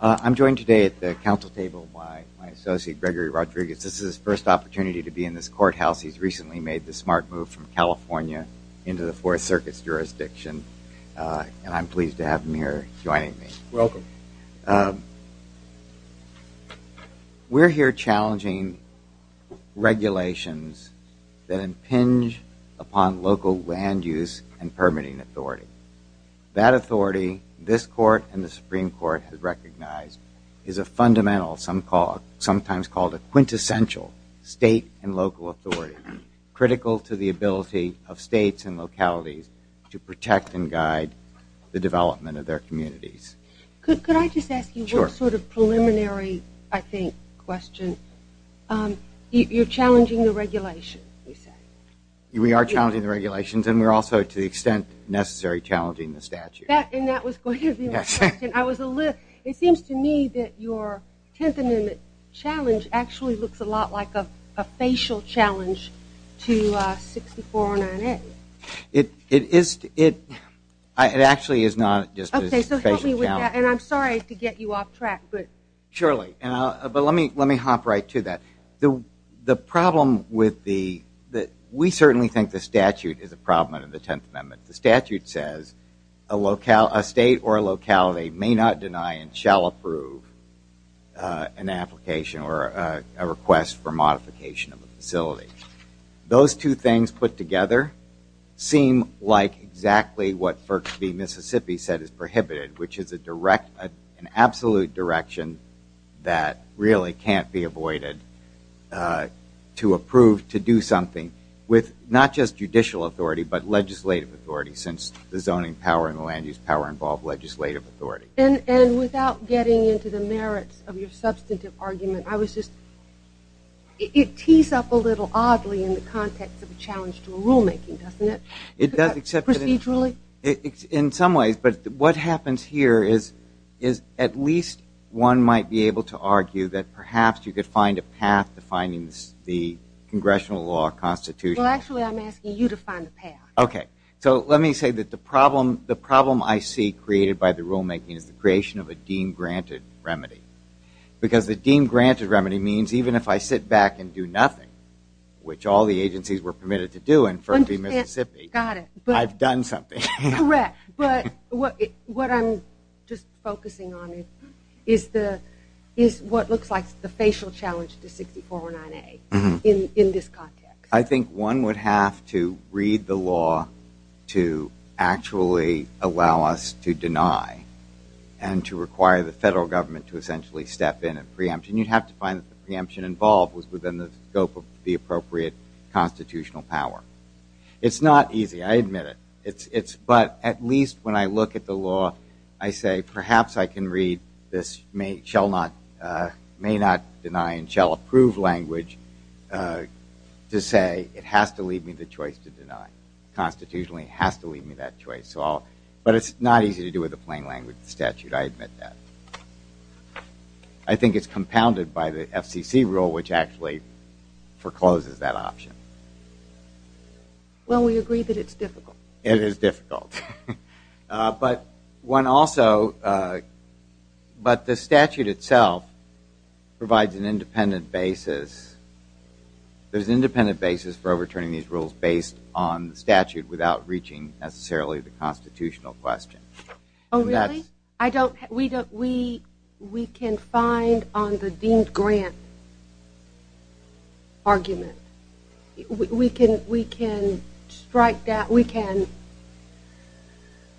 I'm joined today at the council table by my associate Gregory Rodriguez. This is his first opportunity to be in this courthouse. He's recently made the smart move from California into the Fourth Circuit's jurisdiction and I'm pleased to have him here joining me. Welcome. We're here challenging regulations that impinge upon local land use and recognize is a fundamental some call sometimes called a quintessential state and local authority critical to the ability of states and localities to protect and guide the development of their communities. Could I just ask you sort of preliminary I think question. You're challenging the regulation. We are challenging the regulations and we're also to the extent necessary challenging the statute. And that was going to be my question. It seems to me that your 10th Amendment challenge actually looks a lot like a facial challenge to 6409A. It is. It actually is not just a facial challenge. And I'm sorry to get you off track but. Surely but let me let me hop right to that. The problem with the that we certainly think the statute is a problem in the 10th Amendment. The statute says a state or locality may not deny and shall approve an application or a request for modification of the facility. Those two things put together seem like exactly what First V Mississippi said is prohibited which is a direct an absolute direction that really can't be avoided to approve to do something with not just power in the land use power involved legislative authority. And without getting into the merits of your substantive argument I was just it tees up a little oddly in the context of a challenge to rulemaking doesn't it? It does except procedurally. In some ways but what happens here is is at least one might be able to argue that perhaps you could find a path to finding the congressional law constitution. Well actually I'm asking you to find a path. Okay so let me say that the problem the problem I see created by the rulemaking is the creation of a deem granted remedy. Because the deem granted remedy means even if I sit back and do nothing which all the agencies were permitted to do in First V Mississippi I've done something. Correct but what what I'm just focusing on it is the is what looks like the facial challenge to 6409A in this context. I actually allow us to deny and to require the federal government to essentially step in a preemption you'd have to find the preemption involved was within the scope of the appropriate constitutional power. It's not easy I admit it it's it's but at least when I look at the law I say perhaps I can read this may shall not may not deny and shall approve language to say it has to leave me the choice to deny. Constitutionally has to leave me that choice so all but it's not easy to do with the plain language statute I admit that. I think it's compounded by the FCC rule which actually forecloses that option. Well we agree that it's difficult. It is difficult but one also but the statute itself provides an independent basis there's independent basis for returning these rules based on the statute without reaching necessarily the constitutional question. Oh really? I don't we don't we we can find on the deemed grant argument we can we can strike that we can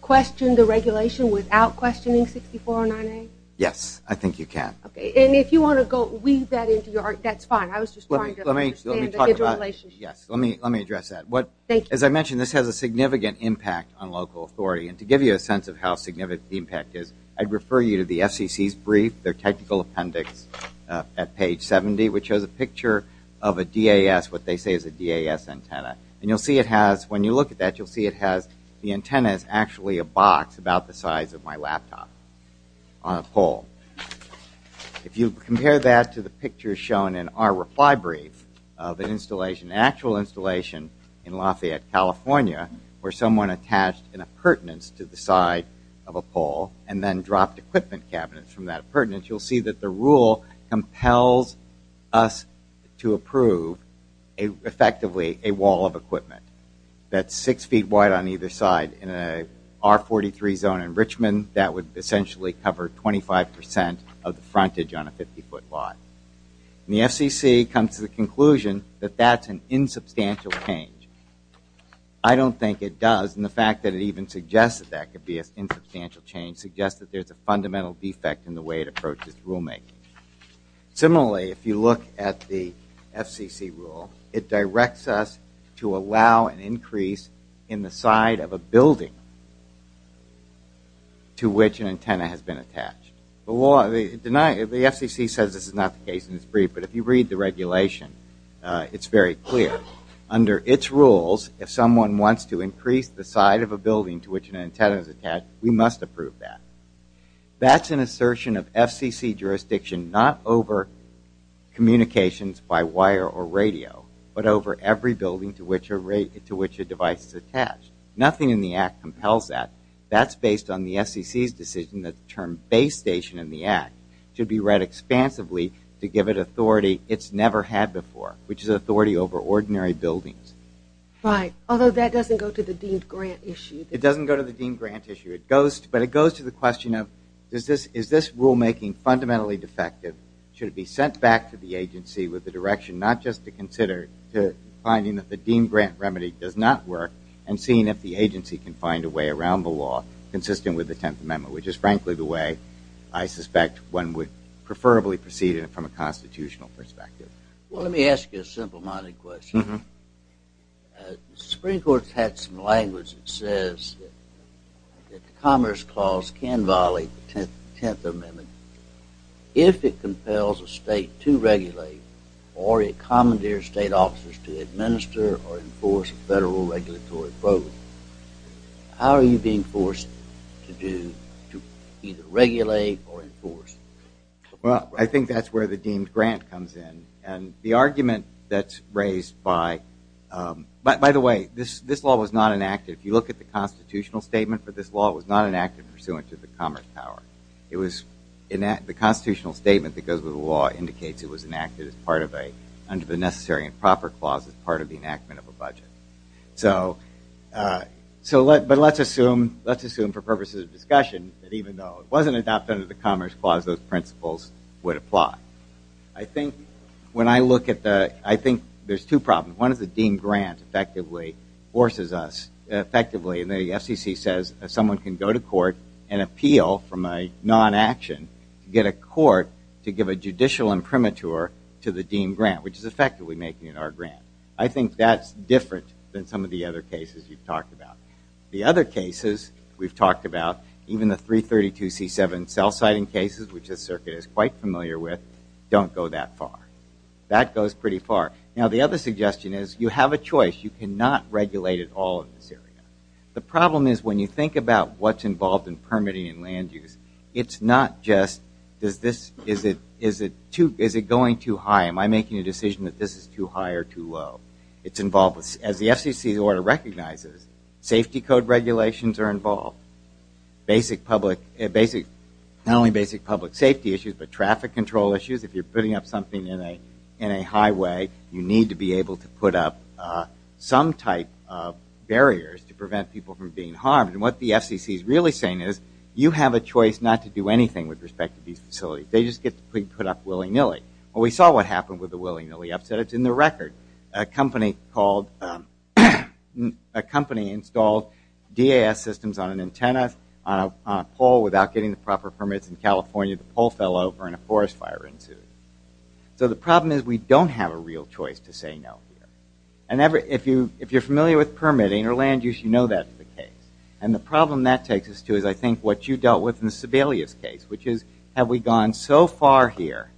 question the regulation without questioning 6409A? Yes I think you can. Okay and if you want to weave that into your that's fine I was just let me let me talk about yes let me let me address that what as I mentioned this has a significant impact on local authority and to give you a sense of how significant the impact is I'd refer you to the FCC's brief their technical appendix at page 70 which shows a picture of a DAS what they say is a DAS antenna and you'll see it has when you look at that you'll see it has the antennas actually a box about the to the pictures shown in our reply brief of an installation actual installation in Lafayette California where someone attached in a pertinence to the side of a pole and then dropped equipment cabinets from that pertinent you'll see that the rule compels us to approve a effectively a wall of equipment that's six feet wide on either side in a r43 zone in Richmond that would essentially cover 25% of the frontage on a 50-foot lot the FCC comes to the conclusion that that's an insubstantial change I don't think it does and the fact that it even suggests that that could be a substantial change suggests that there's a fundamental defect in the way it approaches rule making similarly if you look at the FCC rule it directs us to allow an increase in the side of a building to which an antenna has been attached the FCC says this is not the case in this brief but if you read the regulation it's very clear under its rules if someone wants to increase the side of a building to which an antenna is attached we must approve that that's an assertion of FCC jurisdiction not over communications by wire or radio but over every building to which a rate to which a device is attached nothing in the act compels that that's based on the FCC's decision that the term base station in the act should be read expansively to give it authority it's never had before which is authority over ordinary buildings right although that doesn't go to the deemed grant issue it doesn't go to the deemed grant issue it goes but it goes to the question of does this is this rulemaking fundamentally defective should it be sent back to the agency with the direction not just to consider to finding that the deemed grant remedy does not work and seeing if the agency can find a way around the law consistent with the tenth amendment which is frankly the way I suspect one would preferably proceed it from a constitutional perspective well let me ask you a simple-minded question Supreme Court's had some language that says that the Commerce Clause can violate the 10th Amendment if it compels a state to regulate or a commandeer state officers to administer or enforce a federal regulatory program how are you being forced to do to either regulate or enforce well I think that's where the deemed grant comes in and the argument that's raised by but by the way this this law was not enacted if you look at the constitutional statement for this law it was not enacted pursuant to the commerce power it was in that the constitutional statement that goes with the law indicates it was enacted as part of a under the necessary and proper clauses part of the enactment of a budget so so let but let's assume let's assume for purposes of discussion that even though it wasn't adopted of the Commerce Clause those principles would apply I think when I look at the I think there's two problems one is the deemed grant effectively forces us effectively and the FCC says someone can go to court and appeal from a non-action to get a court to give a judicial imprimatur to the deemed grant which is effectively making it our grant I think that's different than some of the other cases you've talked about the other cases we've talked about even the 332 c7 cell siting cases which a circuit is quite familiar with don't go that far that goes pretty far now the other suggestion is you have a choice you cannot regulate it all in this area the problem is when you think about what's involved in permitting and land use it's not just does this is it is it too is it going too high am I making a decision that this is too high or too low it's involved with as the FCC the order recognizes safety code regulations are involved basic public basic not only basic public safety issues but traffic control issues if you're putting up something in a in a highway you need to be able to put up some type of barriers to prevent people from being harmed and what the FCC is really saying is you have a choice not to do anything with respect to these facilities they just get to put up willy-nilly well we saw what happened with the willy-nilly upset it's in the record a company called a company installed DAS systems on an antenna on a pole without getting the proper permits in California the pole fell over and a forest fire ensued so the problem is we don't have a real choice to say no and ever if you if you're familiar with permitting or land use you know that's the case and the problem that takes us to is I think what you dealt with in the Sebelius case which is have we gone so far here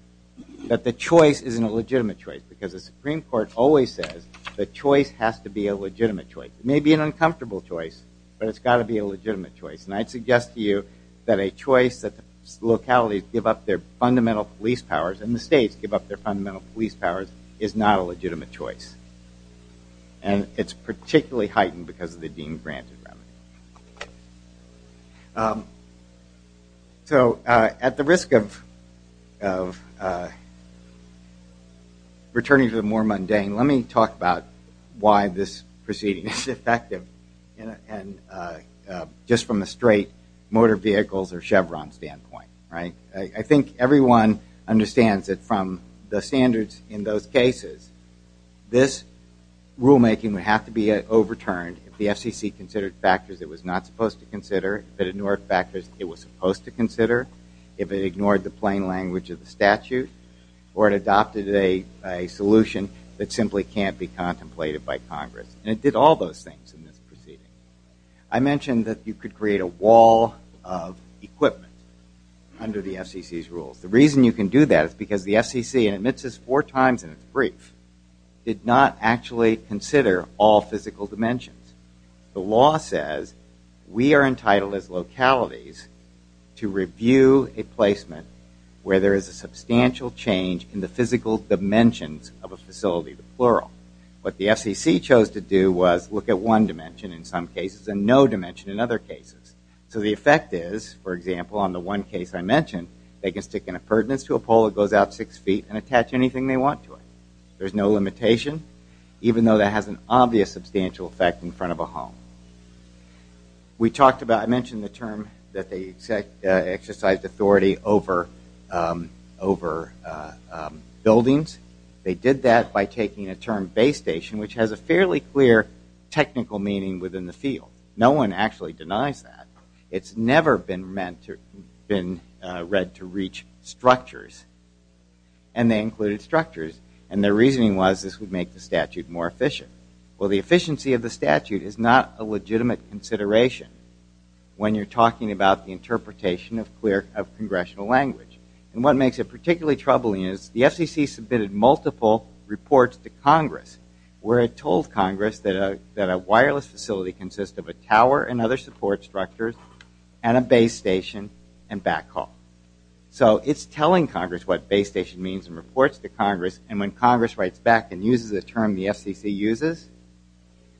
that the choice isn't a legitimate choice because the Supreme Court always says the choice has to be a legitimate choice it may be an uncomfortable choice but it's got to be a legitimate choice and I'd suggest to you that a choice that the localities give up their fundamental police powers and the states give up their fundamental police powers is not a legitimate choice and it's particularly heightened because of the deemed granted remedy so at the risk of returning to the more mundane let me talk about why this proceeding is effective and just from the straight motor vehicles or Chevron standpoint right I think everyone understands that from the standards in those cases this rulemaking would have to be overturned if the FCC considered factors it was not supposed to consider that ignore factors it was supposed to consider if it ignored the plain language of the statute or it adopted a solution that simply can't be contemplated by Congress and it did all those things in this under the FCC's rules the reason you can do that is because the FCC admits is four times in its brief did not actually consider all physical dimensions the law says we are entitled as localities to review a placement where there is a substantial change in the physical dimensions of a facility the plural what the FCC chose to do was look at one dimension in some cases and no dimension in other cases so the effect is for example on the one case I mentioned they can stick in a pertinence to a pole it goes out six feet and attach anything they want to it there's no limitation even though that has an obvious substantial effect in front of a home we talked about I mentioned the term that they said exercise authority over over buildings they did that by taking a term base station which has a fairly clear technical meaning within the field no one actually denies that it's never been meant to been read to reach structures and they included structures and their reasoning was this would make the statute more efficient well the efficiency of the statute is not a legitimate consideration when you're talking about the interpretation of clear of congressional language and what makes it particularly troubling is the FCC submitted multiple reports to Congress where it told Congress that a wireless facility consists of a tower and other support structures and a base station and backhaul so it's telling Congress what base station means and reports to Congress and when Congress writes back and uses a term the FCC uses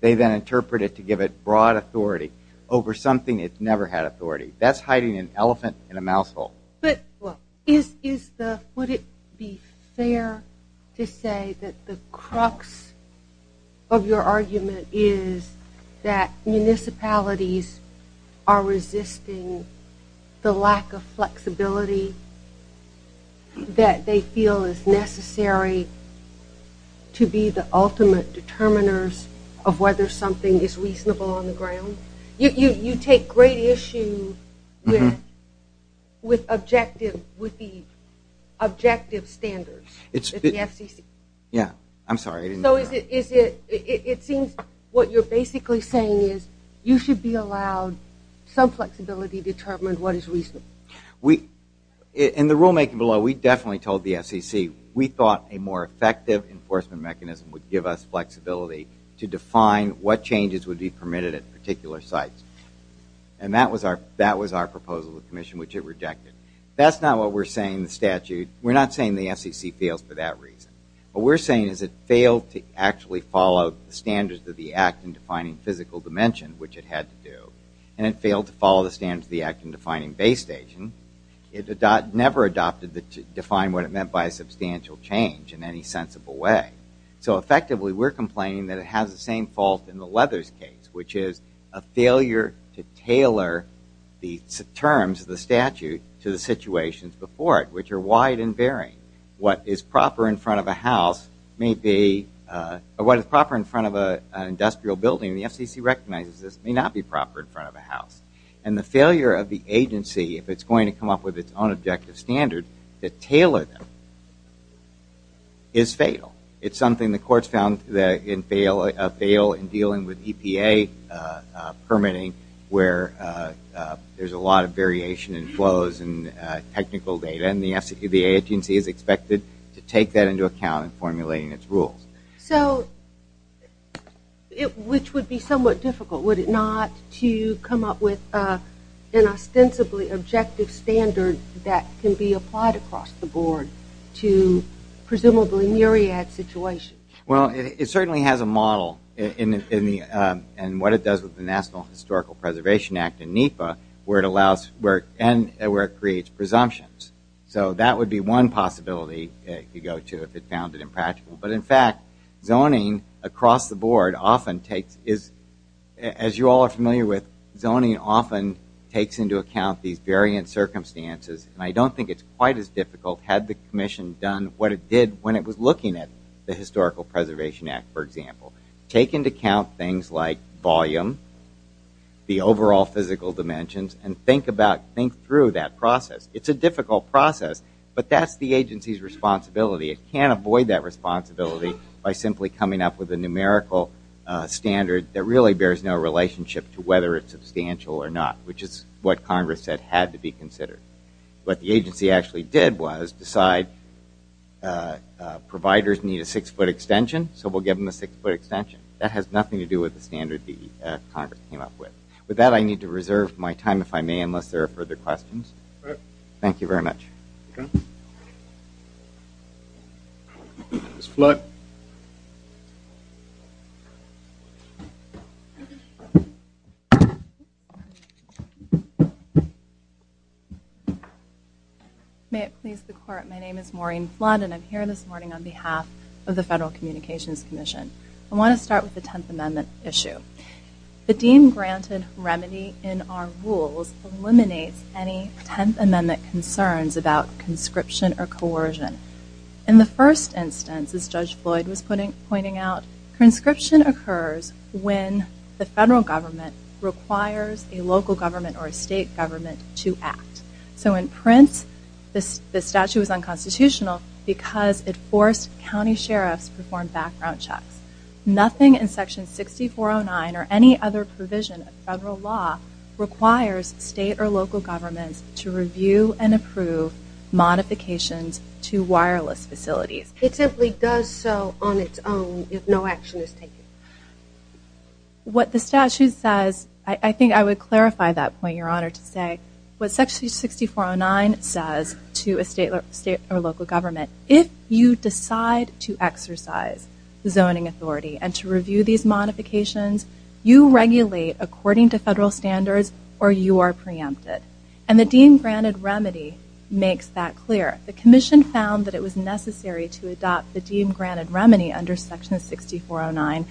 they then interpret it to give it broad authority over something it's never had authority that's hiding an elephant in a mouthful but is is the would it be fair to say that the crux of your argument is that municipalities are resisting the lack of flexibility that they feel is necessary to be the ultimate determiners of whether something is reasonable on the ground you you take great issue with objective with the objective standards it's yeah I'm sorry so is it is it it seems what you're basically saying is you should be allowed some flexibility determined what is reason we in the rulemaking below we definitely told the FCC we thought a more effective enforcement mechanism would give us flexibility to define what changes would be permitted at particular sites and that was our that was our proposal the Commission which it rejected that's not what we're saying the statute we're not saying the FCC feels for that reason what we're saying is it failed to actually follow the standards of the act in defining physical dimension which it had to do and it failed to follow the standards of the act in defining base station it never adopted that to define what it meant by a substantial change in any sensible way so effectively we're complaining that it has the same fault in the Leathers case which is a failure to tailor the terms of the statute to the situations before it which are wide and varying what is proper in front of a house may be what is proper in front of a industrial building the FCC recognizes this may not be proper in front of a house and the failure of the agency if it's going to come up with its own objective standard that tailored is fatal it's something the courts found that in fail a fail in dealing with EPA permitting where there's a lot of variation and flows and technical data and the FCC the agency is expected to take that into account in formulating its rules so it which would be somewhat difficult would it not to come up with an ostensibly objective standard that can be applied across the board to presumably myriad situation well it certainly has a model in the and what it does with the National Historical Preservation Act in NEPA where it allows work and where it creates presumptions so that would be one possibility you go to if it found it impractical but in fact zoning across the board often takes is as you all are familiar with zoning often takes into account these variant circumstances and I don't think it's quite as difficult had the Commission done what it did when it was looking at the Historical Preservation Act for example taken to count things like volume the overall physical dimensions and think about think through that process it's a difficult process but that's the agency's responsibility it can't avoid that responsibility by simply coming up with a numerical standard that really bears no relationship to whether it's substantial or not which is what Congress said had to be considered but the agency actually did was decide providers need a six-foot extension so we'll give them a six-foot extension that has nothing to do with the standard the Congress came up with with that I need to reserve my time if I may unless there are further questions thank you very much it's flood may it please the court my name is Maureen flood and I'm here this morning on behalf of the Federal Communications Commission I want to start with the 10th Amendment concerns about conscription or coercion in the first instance as Judge Floyd was putting pointing out conscription occurs when the federal government requires a local government or a state government to act so in print this the statute was unconstitutional because it forced county sheriffs perform background checks nothing in section 6409 or any other provision of federal law requires state or local governments to review and approve modifications to wireless facilities it simply does so on its own if no action is taken what the statute says I think I would clarify that point your honor to say what section 6409 says to a state or state or local government if you decide to exercise the zoning authority and to review these modifications you regulate according to federal standards or you are preempted and the deemed granted remedy makes that clear the Commission found that it was necessary to adopt the deemed granted remedy under section 6409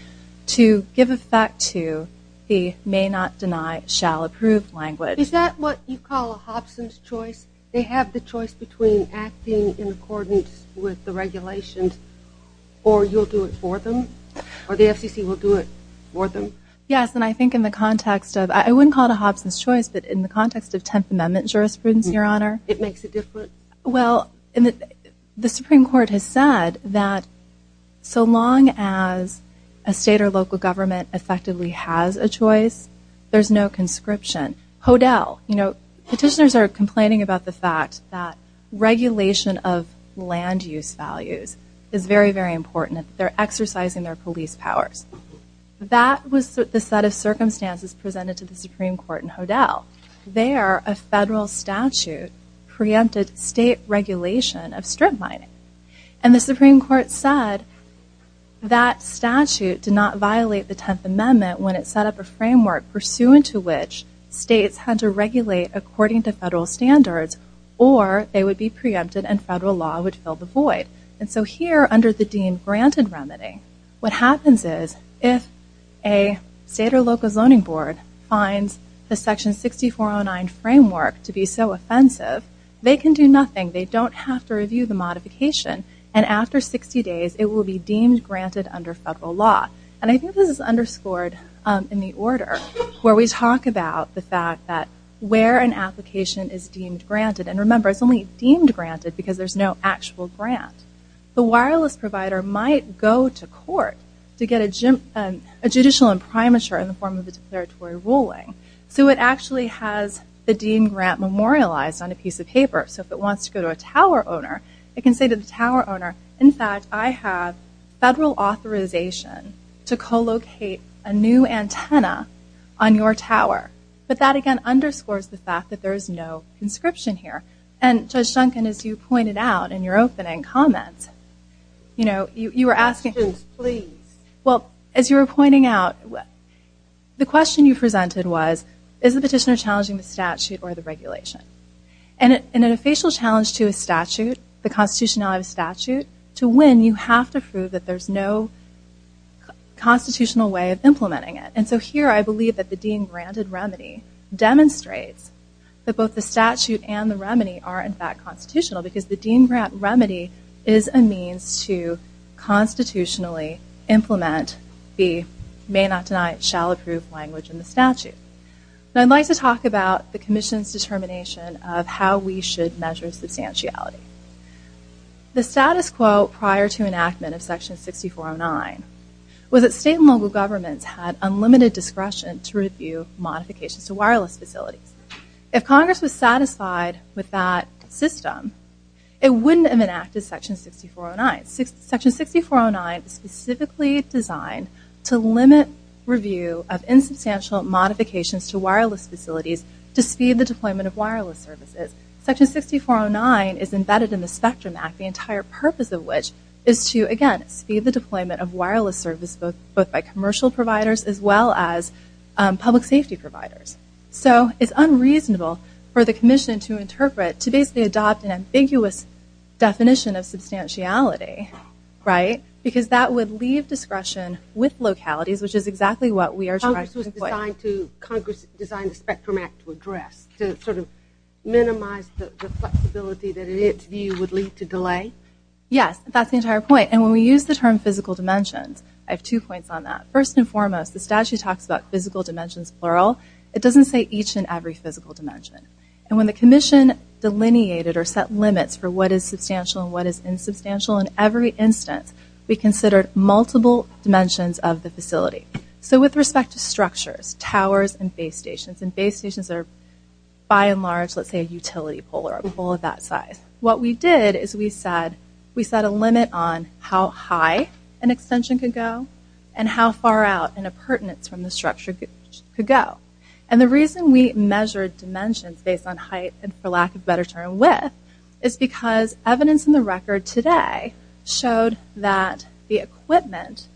to give effect to the may not deny shall approve language is that what you call a Hobson's choice they have the choice between acting in accordance with the yes and I think in the context of I wouldn't call it a Hobson's choice but in the context of 10th Amendment jurisprudence your honor it makes it different well in the Supreme Court has said that so long as a state or local government effectively has a choice there's no conscription Hodel you know petitioners are complaining about the fact that regulation of land use values is very very important they're exercising their police powers that was the set of circumstances presented to the Supreme Court in Hodel there a federal statute preempted state regulation of strip mining and the Supreme Court said that statute did not violate the 10th Amendment when it set up a framework pursuant to which states had to regulate according to federal standards or they would be preempted and federal law would fill the void and so here under the deemed granted remedy what happens is if a state or local zoning board finds the section 6409 framework to be so offensive they can do nothing they don't have to review the modification and after 60 days it will be deemed granted under federal law and I think this is underscored in the order where we talk about the fact that where an application is deemed granted and remember it's only deemed granted because there's no actual grant the wireless provider might go to court to get a gym and a judicial imprimatur in the form of the declaratory ruling so it actually has the deemed grant memorialized on a piece of paper so if it wants to go to a tower owner it can say to the tower owner in fact I have federal authorization to co-locate a new antenna on your tower but that again underscores the fact that there's no inscription here and judge Duncan as you pointed out in your opening comments you know you were asking please well as you were pointing out what the question you presented was is the petitioner challenging the statute or the regulation and in a facial challenge to a statute the constitutionality of a statute to win you have to prove that there's no constitutional way of implementing it and so here I believe that the deemed granted remedy demonstrates that both the statute and the remedy are in fact constitutional because the deemed grant remedy is a means to constitutionally implement the may not deny it shall approve language in the statute I'd like to talk about the Commission's determination of how we should measure substantiality the status quo prior to enactment of section 6409 was it state local governments had unlimited discretion to review modifications to wireless facilities if Congress was satisfied with that system it wouldn't have enacted section 6409 section 6409 specifically designed to limit review of insubstantial modifications to wireless facilities to speed the deployment of wireless services section 6409 is embedded in the spectrum act the entire purpose of which is to again speed the deployment of wireless service both both by commercial providers as well as public safety providers so it's unreasonable for the Commission to interpret to basically adopt an ambiguous definition of substantiality right because that would leave discretion with localities which is exactly what we are trying to Congress design the spectrum act to address to sort of minimize the flexibility that in its view would lead to delay yes that's the entire point and when we use the dimensions I have two points on that first and foremost the statute talks about physical dimensions plural it doesn't say each and every physical dimension and when the Commission delineated or set limits for what is substantial and what is insubstantial in every instance we considered multiple dimensions of the facility so with respect to structures towers and base stations and base stations are by and large let's say a utility pole or a we set a limit on how high an extension could go and how far out in a pertinence from the structure could go and the reason we measured dimensions based on height and for lack of better term width is because evidence in the record today showed that the equipment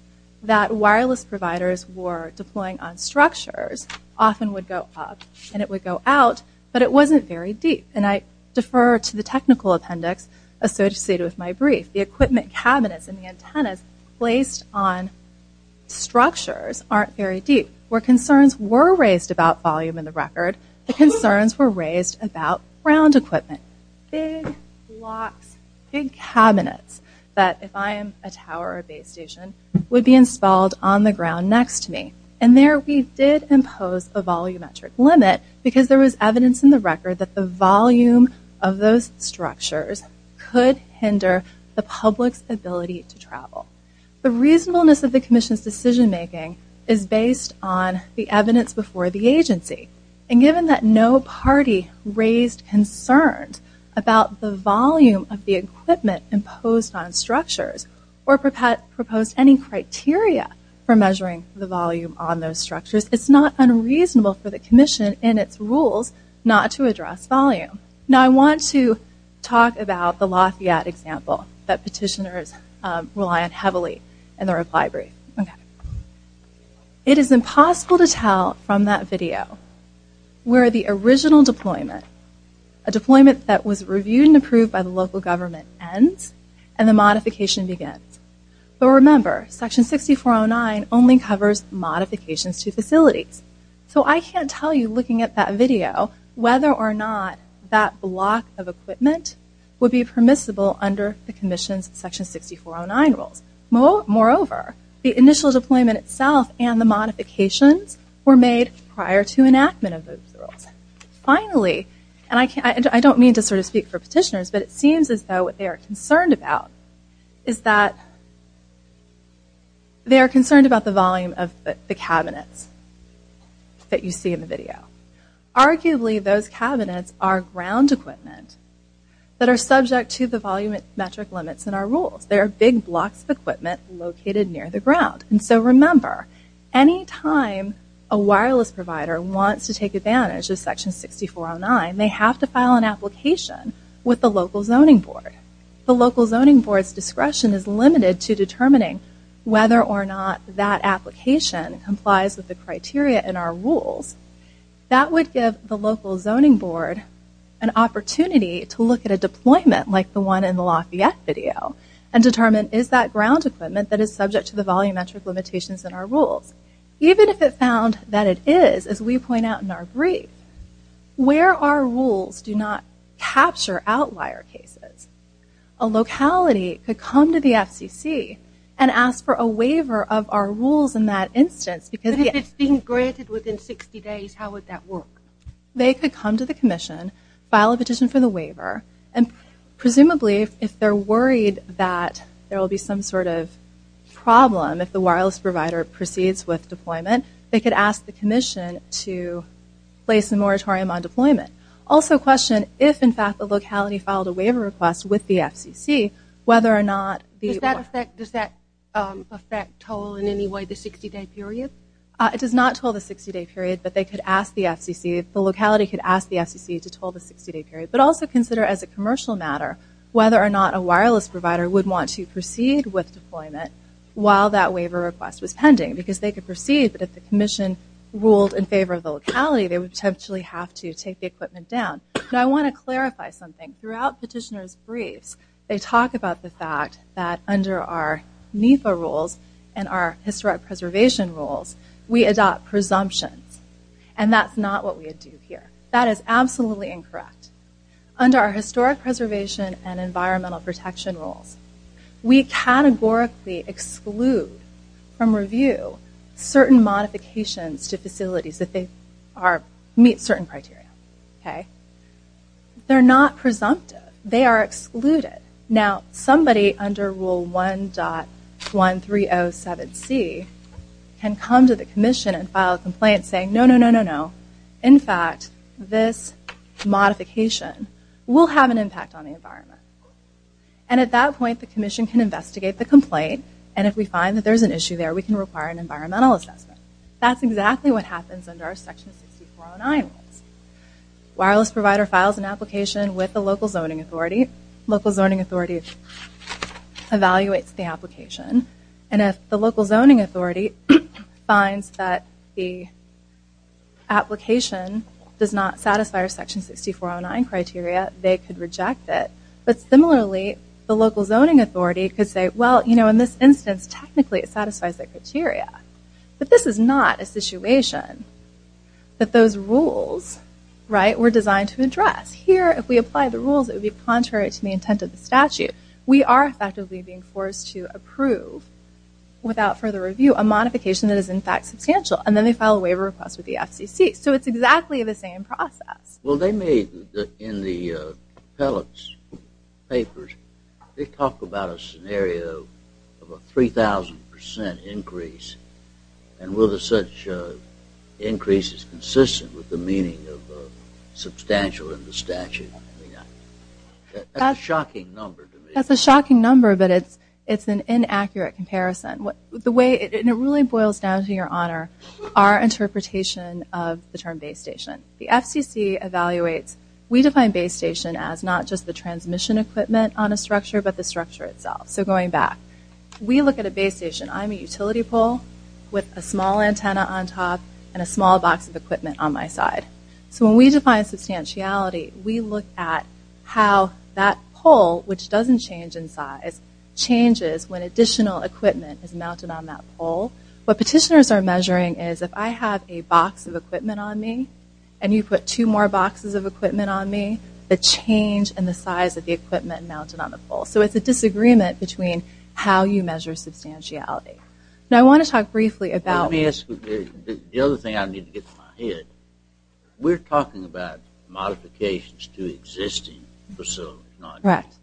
that wireless providers were deploying on structures often would go up and it would go out but it wasn't very deep and I defer to the technical appendix associated with my brief the equipment cabinets and the antennas placed on structures aren't very deep where concerns were raised about volume in the record the concerns were raised about ground equipment big blocks big cabinets that if I am a tower a base station would be installed on the ground next to me and there we did impose a volumetric limit because there was evidence in the record that the volume of those structures could hinder the public's ability to travel the reasonableness of the Commission's decision-making is based on the evidence before the agency and given that no party raised concerns about the volume of the equipment imposed on structures or proposed any criteria for measuring the volume on those structures it's not unreasonable for the Commission and its rules not to address volume now I want to talk about the Lafayette example that petitioners rely on heavily in the reply brief it is impossible to tell from that video where the original deployment a deployment that was reviewed and approved by the local government ends and the modification begins but remember section 6409 only covers modifications to facilities so I can't tell you looking at that video whether or not that block of equipment would be permissible under the Commission's section 6409 rules moreover the initial deployment itself and the modifications were made prior to enactment of those rules finally and I can't I don't mean to sort of speak for petitioners but it they are concerned about the volume of the cabinets that you see in the video arguably those cabinets are ground equipment that are subject to the volumetric limits in our rules there are big blocks of equipment located near the ground and so remember anytime a wireless provider wants to take advantage of section 6409 they have to file an application with the local whether or not that application complies with the criteria in our rules that would give the local zoning board an opportunity to look at a deployment like the one in the Lafayette video and determine is that ground equipment that is subject to the volumetric limitations in our rules even if it found that it is as we point out in our brief where our rules do not capture outlier cases a waiver of our rules in that instance because it's being granted within 60 days how would that work they could come to the Commission file a petition for the waiver and presumably if they're worried that there will be some sort of problem if the wireless provider proceeds with deployment they could ask the Commission to place the moratorium on deployment also question if in fact the locality filed a waiver request with the FCC whether or not these that affect does that affect toll in any way the 60 day period it does not toll the 60 day period but they could ask the FCC the locality could ask the FCC to toll the 60 day period but also consider as a commercial matter whether or not a wireless provider would want to proceed with deployment while that waiver request was pending because they could proceed but if the Commission ruled in favor of the locality they would potentially have to take the equipment down but I want to clarify something throughout petitioners briefs they talk about the fact that under our NEPA rules and our historic preservation rules we adopt presumptions and that's not what we do here that is absolutely incorrect under our historic preservation and environmental protection rules we categorically exclude from review certain modifications to facilities that they are meet certain criteria okay they're not presumptive they are excluded now somebody under rule 1 dot 1 3 0 7 C can come to the Commission and file a complaint saying no no no no no in fact this modification will have an impact on the environment and at that point the Commission can investigate the complaint and if we find that there's an issue there we can require an environmental assessment that's exactly what happens under our section 69 wireless provider files an application with the local zoning authority local zoning authority evaluates the application and if the local zoning authority finds that the application does not satisfy our section 6409 criteria they could reject it but similarly the local zoning authority could say well you know in this instance technically it satisfies that criteria but this is not a situation that those rules right were designed to address here if we apply the rules it would be contrary to the intent of the statute we are effectively being forced to approve without further review a modification that is in fact substantial and then they file a waiver request with the FCC so it's exactly the same process well they made in the pellets papers they and will the such increases consistent with the meaning of substantial in the statute that's a shocking number but it's it's an inaccurate comparison what the way it really boils down to your honor our interpretation of the term base station the FCC evaluates we define base station as not just the transmission equipment on a structure but the structure itself so going back we look at a base station I'm a utility pole with a small antenna on top and a small box of equipment on my side so when we define substantiality we look at how that pole which doesn't change in size changes when additional equipment is mounted on that pole what petitioners are measuring is if I have a box of equipment on me and you put two more boxes of equipment on me the change in size of the equipment mounted on the pole so it's a disagreement between how you measure substantiality now I want to talk briefly about the other thing I need to get my head we're talking about modifications to existing facility correct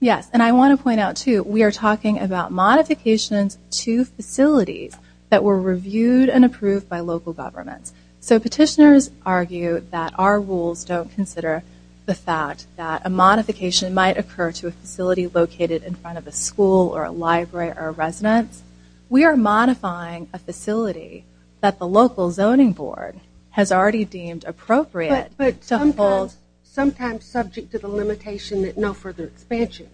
yes and I want to point out too we are talking about modifications to facilities that were reviewed and approved by local governments so a modification might occur to a facility located in front of a school or a library or residence we are modifying a facility that the local zoning board has already deemed appropriate but to hold sometimes subject to the limitation that no further expansion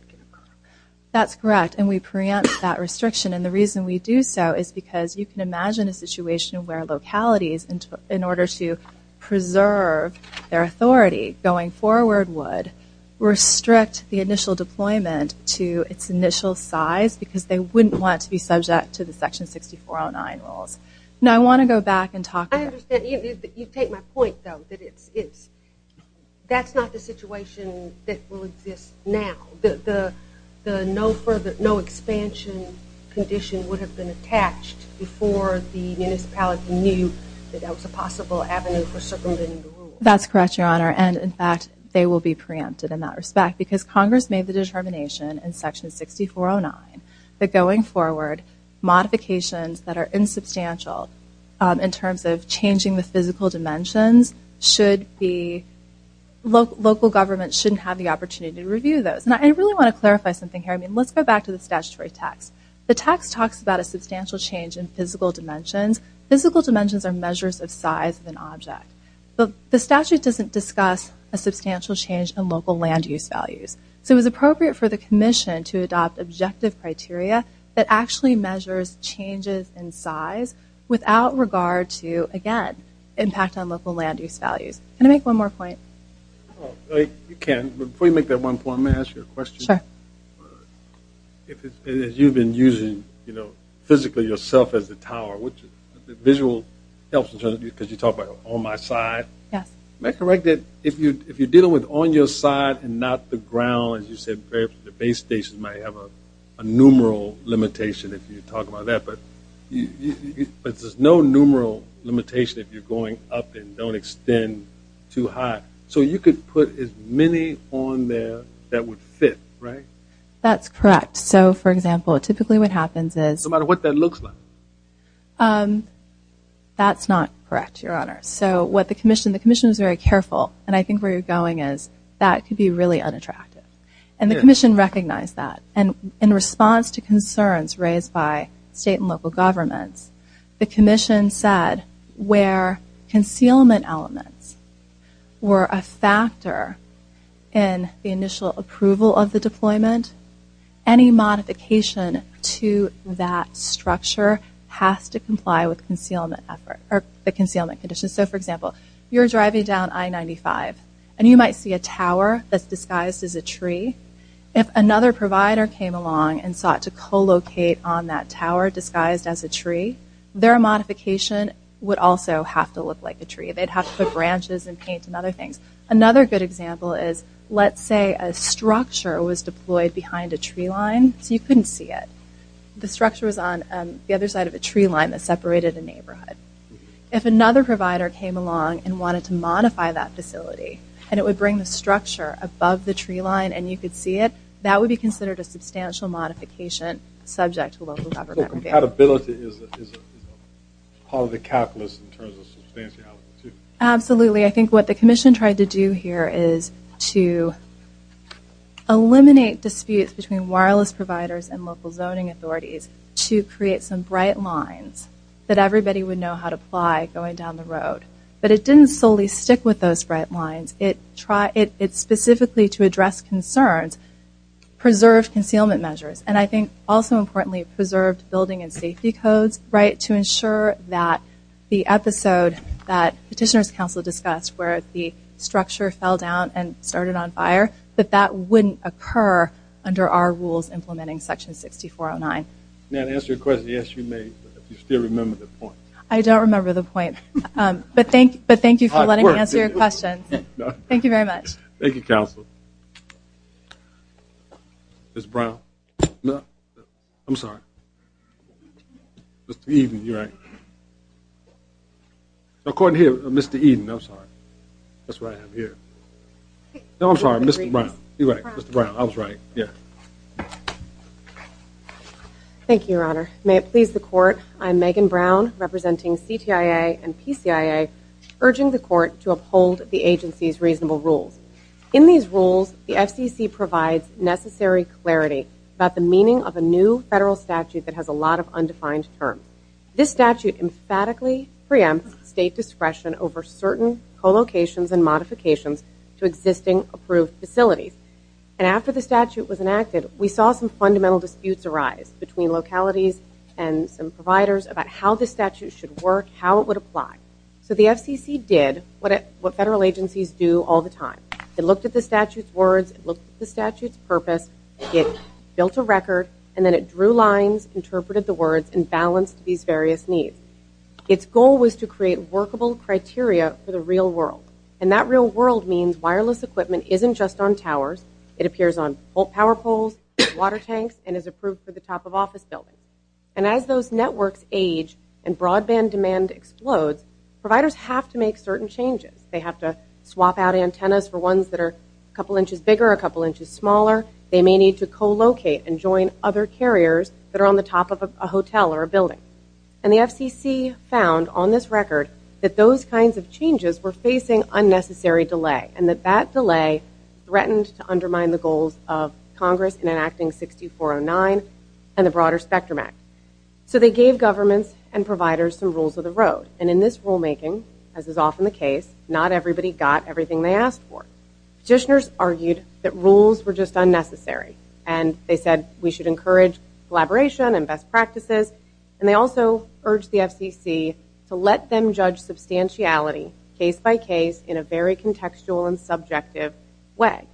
that's correct and we preempt that restriction and the reason we do so is because you can imagine a situation where localities and in order to preserve their authority going forward would restrict the initial deployment to its initial size because they wouldn't want to be subject to the section 6409 rules now I want to go back and talk I understand you take my point though that it's it's that's not the situation that will exist now the the no further no expansion condition would have been attached before the that's correct your honor and in fact they will be preempted in that respect because Congress made the determination in section 6409 that going forward modifications that are insubstantial in terms of changing the physical dimensions should be local local government shouldn't have the opportunity to review those and I really want to clarify something here I mean let's go back to the statutory text the text talks about a substantial change in size of an object but the statute doesn't discuss a substantial change in local land-use values so it was appropriate for the Commission to adopt objective criteria that actually measures changes in size without regard to again impact on local land-use values and I make one more point you can we make that one point master question if you've been using you know physically yourself as a tower which visual helps because you talk about on my side yes make a right that if you if you're dealing with on your side and not the ground as you said the base station might have a numeral limitation if you talk about that but there's no numeral limitation if you're going up and don't extend too high so you could put as many on there that would fit right that's correct so for example typically what happens is no matter what that looks like that's not correct your honor so what the Commission the Commission is very careful and I think where you're going is that could be really unattractive and the Commission recognized that and in response to concerns raised by state and local governments the Commission said where concealment elements were a factor in the initial approval of the deployment any modification to that structure has to comply with concealment effort or the concealment conditions so for example you're driving down I-95 and you might see a tower that's disguised as a tree if another provider came along and sought to co-locate on that tower disguised as a tree their modification would also have to look like a tree they'd have to put branches and paint and other things another good example is let's say a structure was deployed behind a tree line so you couldn't see it the structure was on the other side of a tree line that separated a neighborhood if another provider came along and wanted to modify that facility and it would bring the structure above the tree line and you could see it that would be considered a substantial modification subject to local government. So compatibility is a part of the calculus in terms of substantiality. Absolutely I think what the Commission tried to do here is to eliminate disputes between wireless providers and local zoning authorities to create some bright lines that everybody would know how to apply going down the road but it didn't solely stick with those bright lines it specifically to address concerns preserved concealment measures and I think also importantly preserved building and safety codes right to ensure that the episode that Petitioners Council discussed where the structure fell down and started on fire that that didn't occur under our rules implementing section 6409. Now to answer your question, yes you may, but if you still remember the point. I don't remember the point but thank you for letting me answer your question. Thank you very much. Thank you council. Ms. Brown. No, I'm sorry. Mr. Eden, you're right. According to here, Mr. Eden, I'm sorry. That's what I have here. No, I'm sorry, Mr. Brown. You're right, Mr. Brown. I was right. Thank you, your honor. May it please the court, I'm Megan Brown representing CTIA and PCIA urging the court to uphold the agency's reasonable rules. In these rules, the FCC provides necessary clarity about the meaning of a new federal statute that has a lot of undefined terms. This statute emphatically preempts state discretion over certain co-locations and modifications to existing approved facilities. And after the statute was enacted, we saw some fundamental disputes arise between localities and some providers about how the statute should work, how it would apply. So the FCC did what federal agencies do all the time. It looked at the statute's words. It looked at the statute's purpose. It built a record. And then it drew lines, interpreted the words, and balanced these various needs. Its goal was to create workable criteria for the real world. And that real world means wireless equipment isn't just on towers. It appears on power poles, water tanks, and is approved for the top of office buildings. And as those networks age and broadband demand explodes, providers have to make certain changes. They have to swap out antennas for ones that are a couple inches bigger, a couple inches smaller. They may need to co-locate and join other carriers that are on the top of a hotel or a building. And the FCC found on this record that those kinds of changes were facing unnecessary delay, and that that delay threatened to undermine the goals of Congress in enacting 6409 and the Broader Spectrum Act. So they gave governments and providers some rules of the road. And in this rulemaking, as is often the case, not everybody got everything they asked for. Petitioners argued that rules were just unnecessary. And they said we should encourage collaboration and best practices. And they also urged the FCC to let them judge substantiality case by case in a very contextual and subjective way.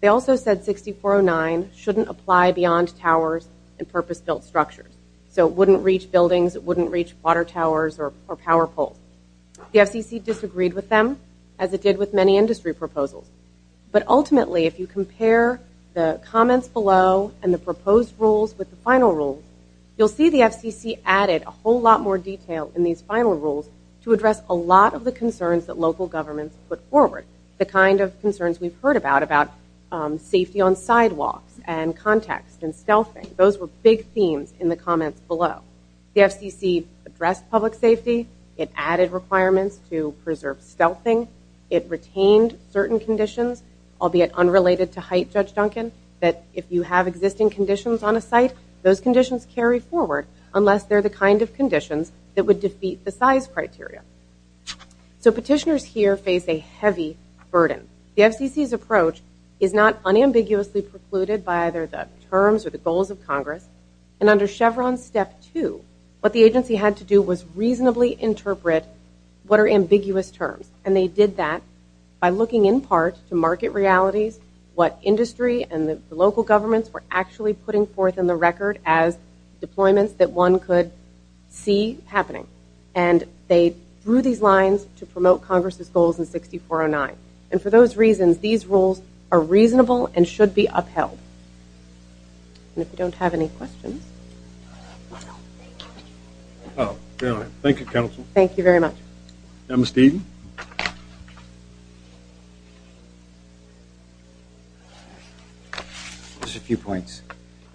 They also said 6409 shouldn't apply beyond towers and purpose-built structures. So it wouldn't reach buildings, it wouldn't reach water towers or power poles. The FCC disagreed with them, as it did with many industry proposals. But ultimately, if you compare the comments below and the proposed rules with the final rules, you'll see the FCC added a whole lot more detail in these final rules to address a lot of the concerns that local governments put forward, the kind of concerns we've heard about, about safety on sidewalks and context and stealthing. Those were big themes in the comments below. The FCC addressed public safety, it added requirements to preserve stealthing, it retained certain conditions, albeit unrelated to height, Judge Duncan, that if you have existing conditions on a site, those conditions carry forward, unless they're the kind of conditions that would defeat the size criteria. So petitioners here face a heavy burden. The FCC's approach is not unambiguously precluded by either the terms or the goals of Congress. And under Chevron Step 2, what the agency had to do was reasonably interpret what are ambiguous terms. And they did that by looking in part to market realities, what industry and the local governments were actually putting forth in the record as deployments that one could see happening. And they drew these lines to promote Congress's goals in 6409. And for those reasons, these rules are reasonable and should be upheld. And if you don't have any questions. Thank you, counsel. Thank you very much. Mr. Eaton. Just a few points.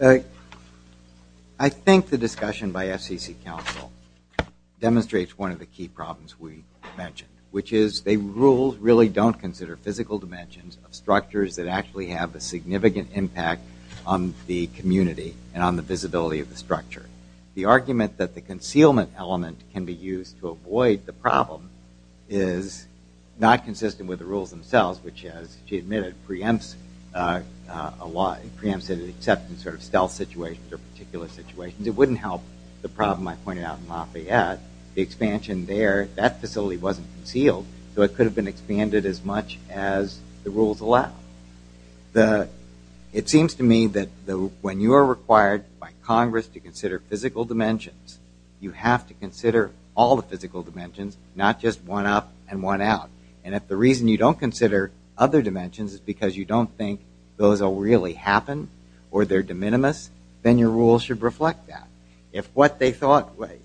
I think the discussion by FCC counsel demonstrates one of the key problems we mentioned, which is the rules really don't consider physical dimensions of structures that actually have a significant impact on the community and on the visibility of the structure. The argument that the concealment element can be used to avoid the problem is not consistent with the rules themselves, which, as she admitted, preempts an acceptance of stealth situations or particular situations. It wouldn't help the problem I pointed out in Lafayette. The expansion there, that facility wasn't concealed, so it could have been expanded as much as the rules allowed. It seems to me that when you are required by Congress to consider physical dimensions, you have to consider all the physical dimensions, not just one up and one out. And if the reason you don't consider other dimensions is because you don't think those will really happen or they're de minimis, then your rules should reflect that.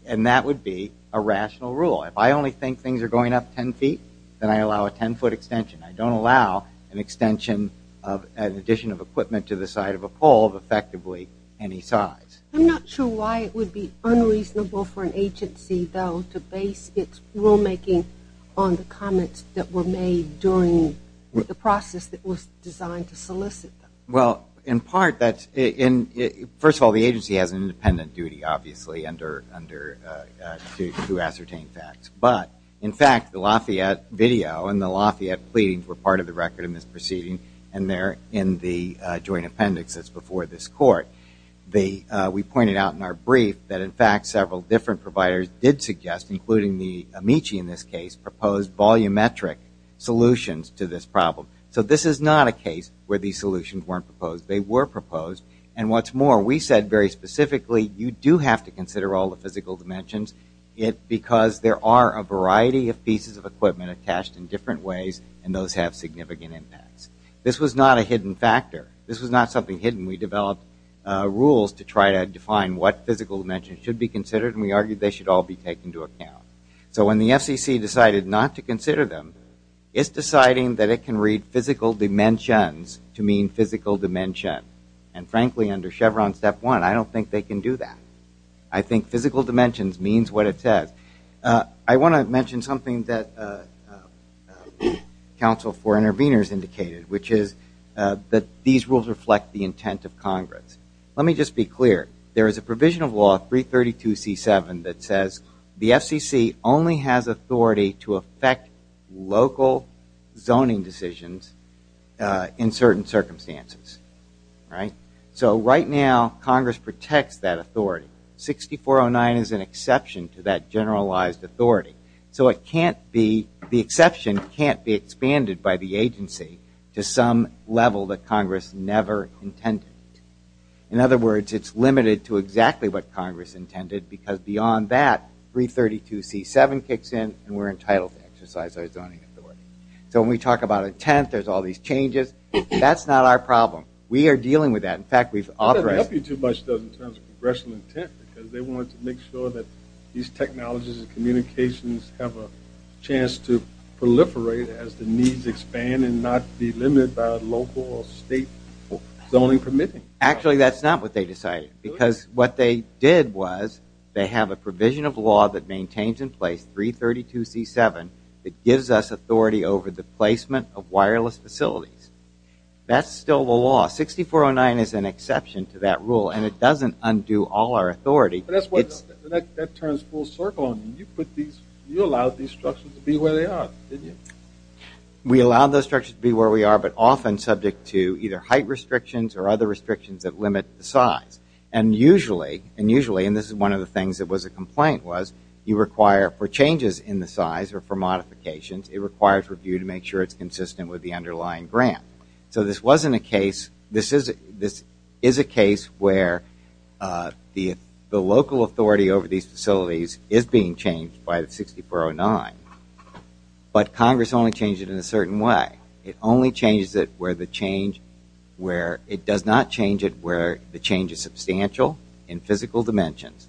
And that would be a rational rule. If I only think things are going up 10 feet, then I allow a 10-foot extension. I don't allow an extension of an addition of equipment to the side of a pole of effectively any size. I'm not sure why it would be unreasonable for an agency, though, to base its rulemaking on the comments that were made during the process that was designed to solicit them. Well, in part, first of all, the agency has an independent duty, obviously, to ascertain facts. But, in fact, the Lafayette video and the Lafayette pleadings were part of the record in this proceeding, and they're in the joint appendix that's before this court. We pointed out in our brief that, in fact, several different providers did suggest, including the Amici in this case, proposed volumetric solutions to this problem. So this is not a case where these solutions weren't proposed. They were proposed, and what's more, we said very specifically, you do have to consider all the physical dimensions because there are a variety of pieces of equipment attached in different ways, and those have significant impacts. This was not a hidden factor. This was not something hidden. We developed rules to try to define what physical dimensions should be considered, and we argued they should all be taken into account. So when the FCC decided not to consider them, it's deciding that it can read physical dimensions to mean physical dimension. And, frankly, under Chevron Step 1, I don't think they can do that. I think physical dimensions means what it says. I want to mention something that counsel for interveners indicated, which is that these rules reflect the intent of Congress. Let me just be clear. There is a provision of law, 332C7, that says the FCC only has authority to affect local zoning decisions in certain circumstances. So right now Congress protects that authority. 6409 is an exception to that generalized authority. So the exception can't be expanded by the agency to some level that Congress never intended. In other words, it's limited to exactly what Congress intended, because beyond that, 332C7 kicks in, and we're entitled to exercise our zoning authority. So when we talk about intent, there's all these changes. That's not our problem. We are dealing with that. In fact, we've authorized it. It doesn't help you too much in terms of congressional intent, because they wanted to make sure that these technologies and communications have a chance to proliferate as the needs expand and not be limited by local or state zoning permitting. Actually, that's not what they decided, because what they did was they have a provision of law that maintains in place 332C7 that gives us authority over the placement of wireless facilities. That's still the law. 6409 is an exception to that rule, and it doesn't undo all our authority. That turns full circle. You allowed these structures to be where they are, didn't you? We allowed those structures to be where we are, but often subject to either height restrictions or other restrictions that limit the size. And usually, and this is one of the things that was a complaint, was you require for changes in the size or for modifications, it requires review to make sure it's consistent with the underlying grant. So this wasn't a case. This is a case where the local authority over these facilities is being changed by 6409, but Congress only changed it in a certain way. It only changes it where the change where it does not change it where the change is substantial in physical dimensions,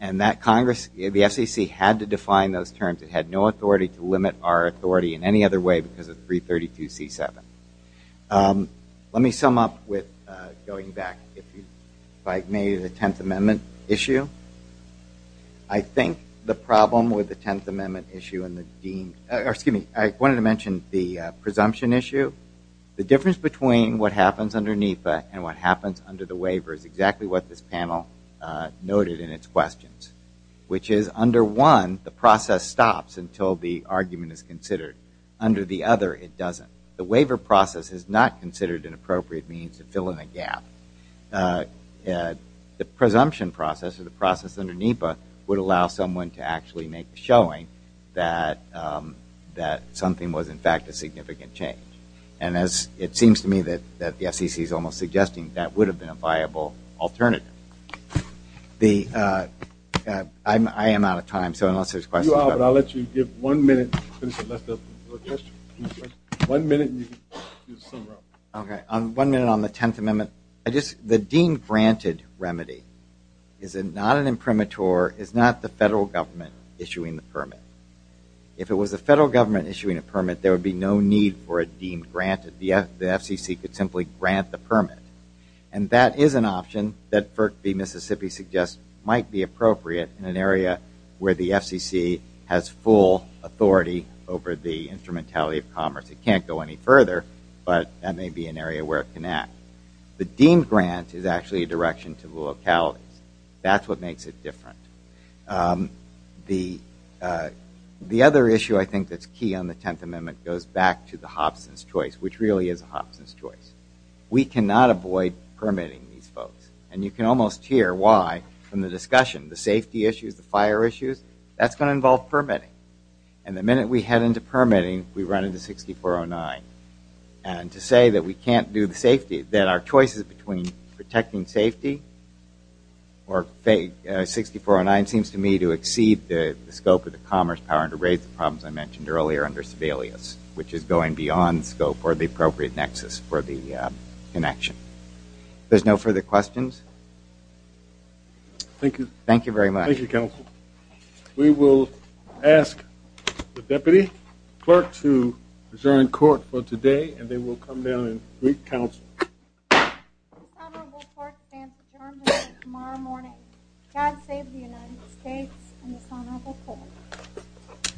and that Congress, the FCC, had to define those terms. It had no authority to limit our authority in any other way because of 332C7. Let me sum up with going back, if I may, to the Tenth Amendment issue. I think the problem with the Tenth Amendment issue and the deemed, or excuse me, I wanted to mention the presumption issue. The difference between what happens under NEPA and what happens under the waiver is exactly what this panel noted in its questions, which is under one, the process stops until the argument is considered. Under the other, it doesn't. The waiver process is not considered an appropriate means to fill in a gap. The presumption process, or the process under NEPA, would allow someone to actually make the showing that something was, in fact, a significant change. It seems to me that the FCC is almost suggesting that would have been a viable alternative. I am out of time, so unless there's questions. You are, but I'll let you give one minute. One minute and you can sum it up. One minute on the Tenth Amendment. The deemed granted remedy is not an imprimatur, is not the federal government issuing the permit. If it was the federal government issuing a permit, there would be no need for a deemed granted. The FCC could simply grant the permit. And that is an option that the Mississippi suggests might be appropriate in an area where the FCC has full authority over the instrumentality of commerce. It can't go any further, but that may be an area where it can act. The deemed grant is actually a direction to the localities. That's what makes it different. The other issue I think that's key on the Tenth Amendment goes back to the Hobson's Choice, which really is a Hobson's Choice. We cannot avoid permitting these folks. And you can almost hear why from the discussion. The safety issues, the fire issues, that's going to involve permitting. And the minute we head into permitting, we run into 6409. And to say that we can't do the safety, that our choices between protecting safety or 6409 seems to me to exceed the scope of the commerce power and to raise the problems I mentioned earlier under Sebelius, which is going beyond scope or the appropriate nexus for the connection. There's no further questions? Thank you. Thank you very much. Thank you, counsel. We will ask the deputy clerk to adjourn court for today, and then we'll come down and brief counsel. The honorable court stands adjourned until tomorrow morning. God save the United States and this honorable court.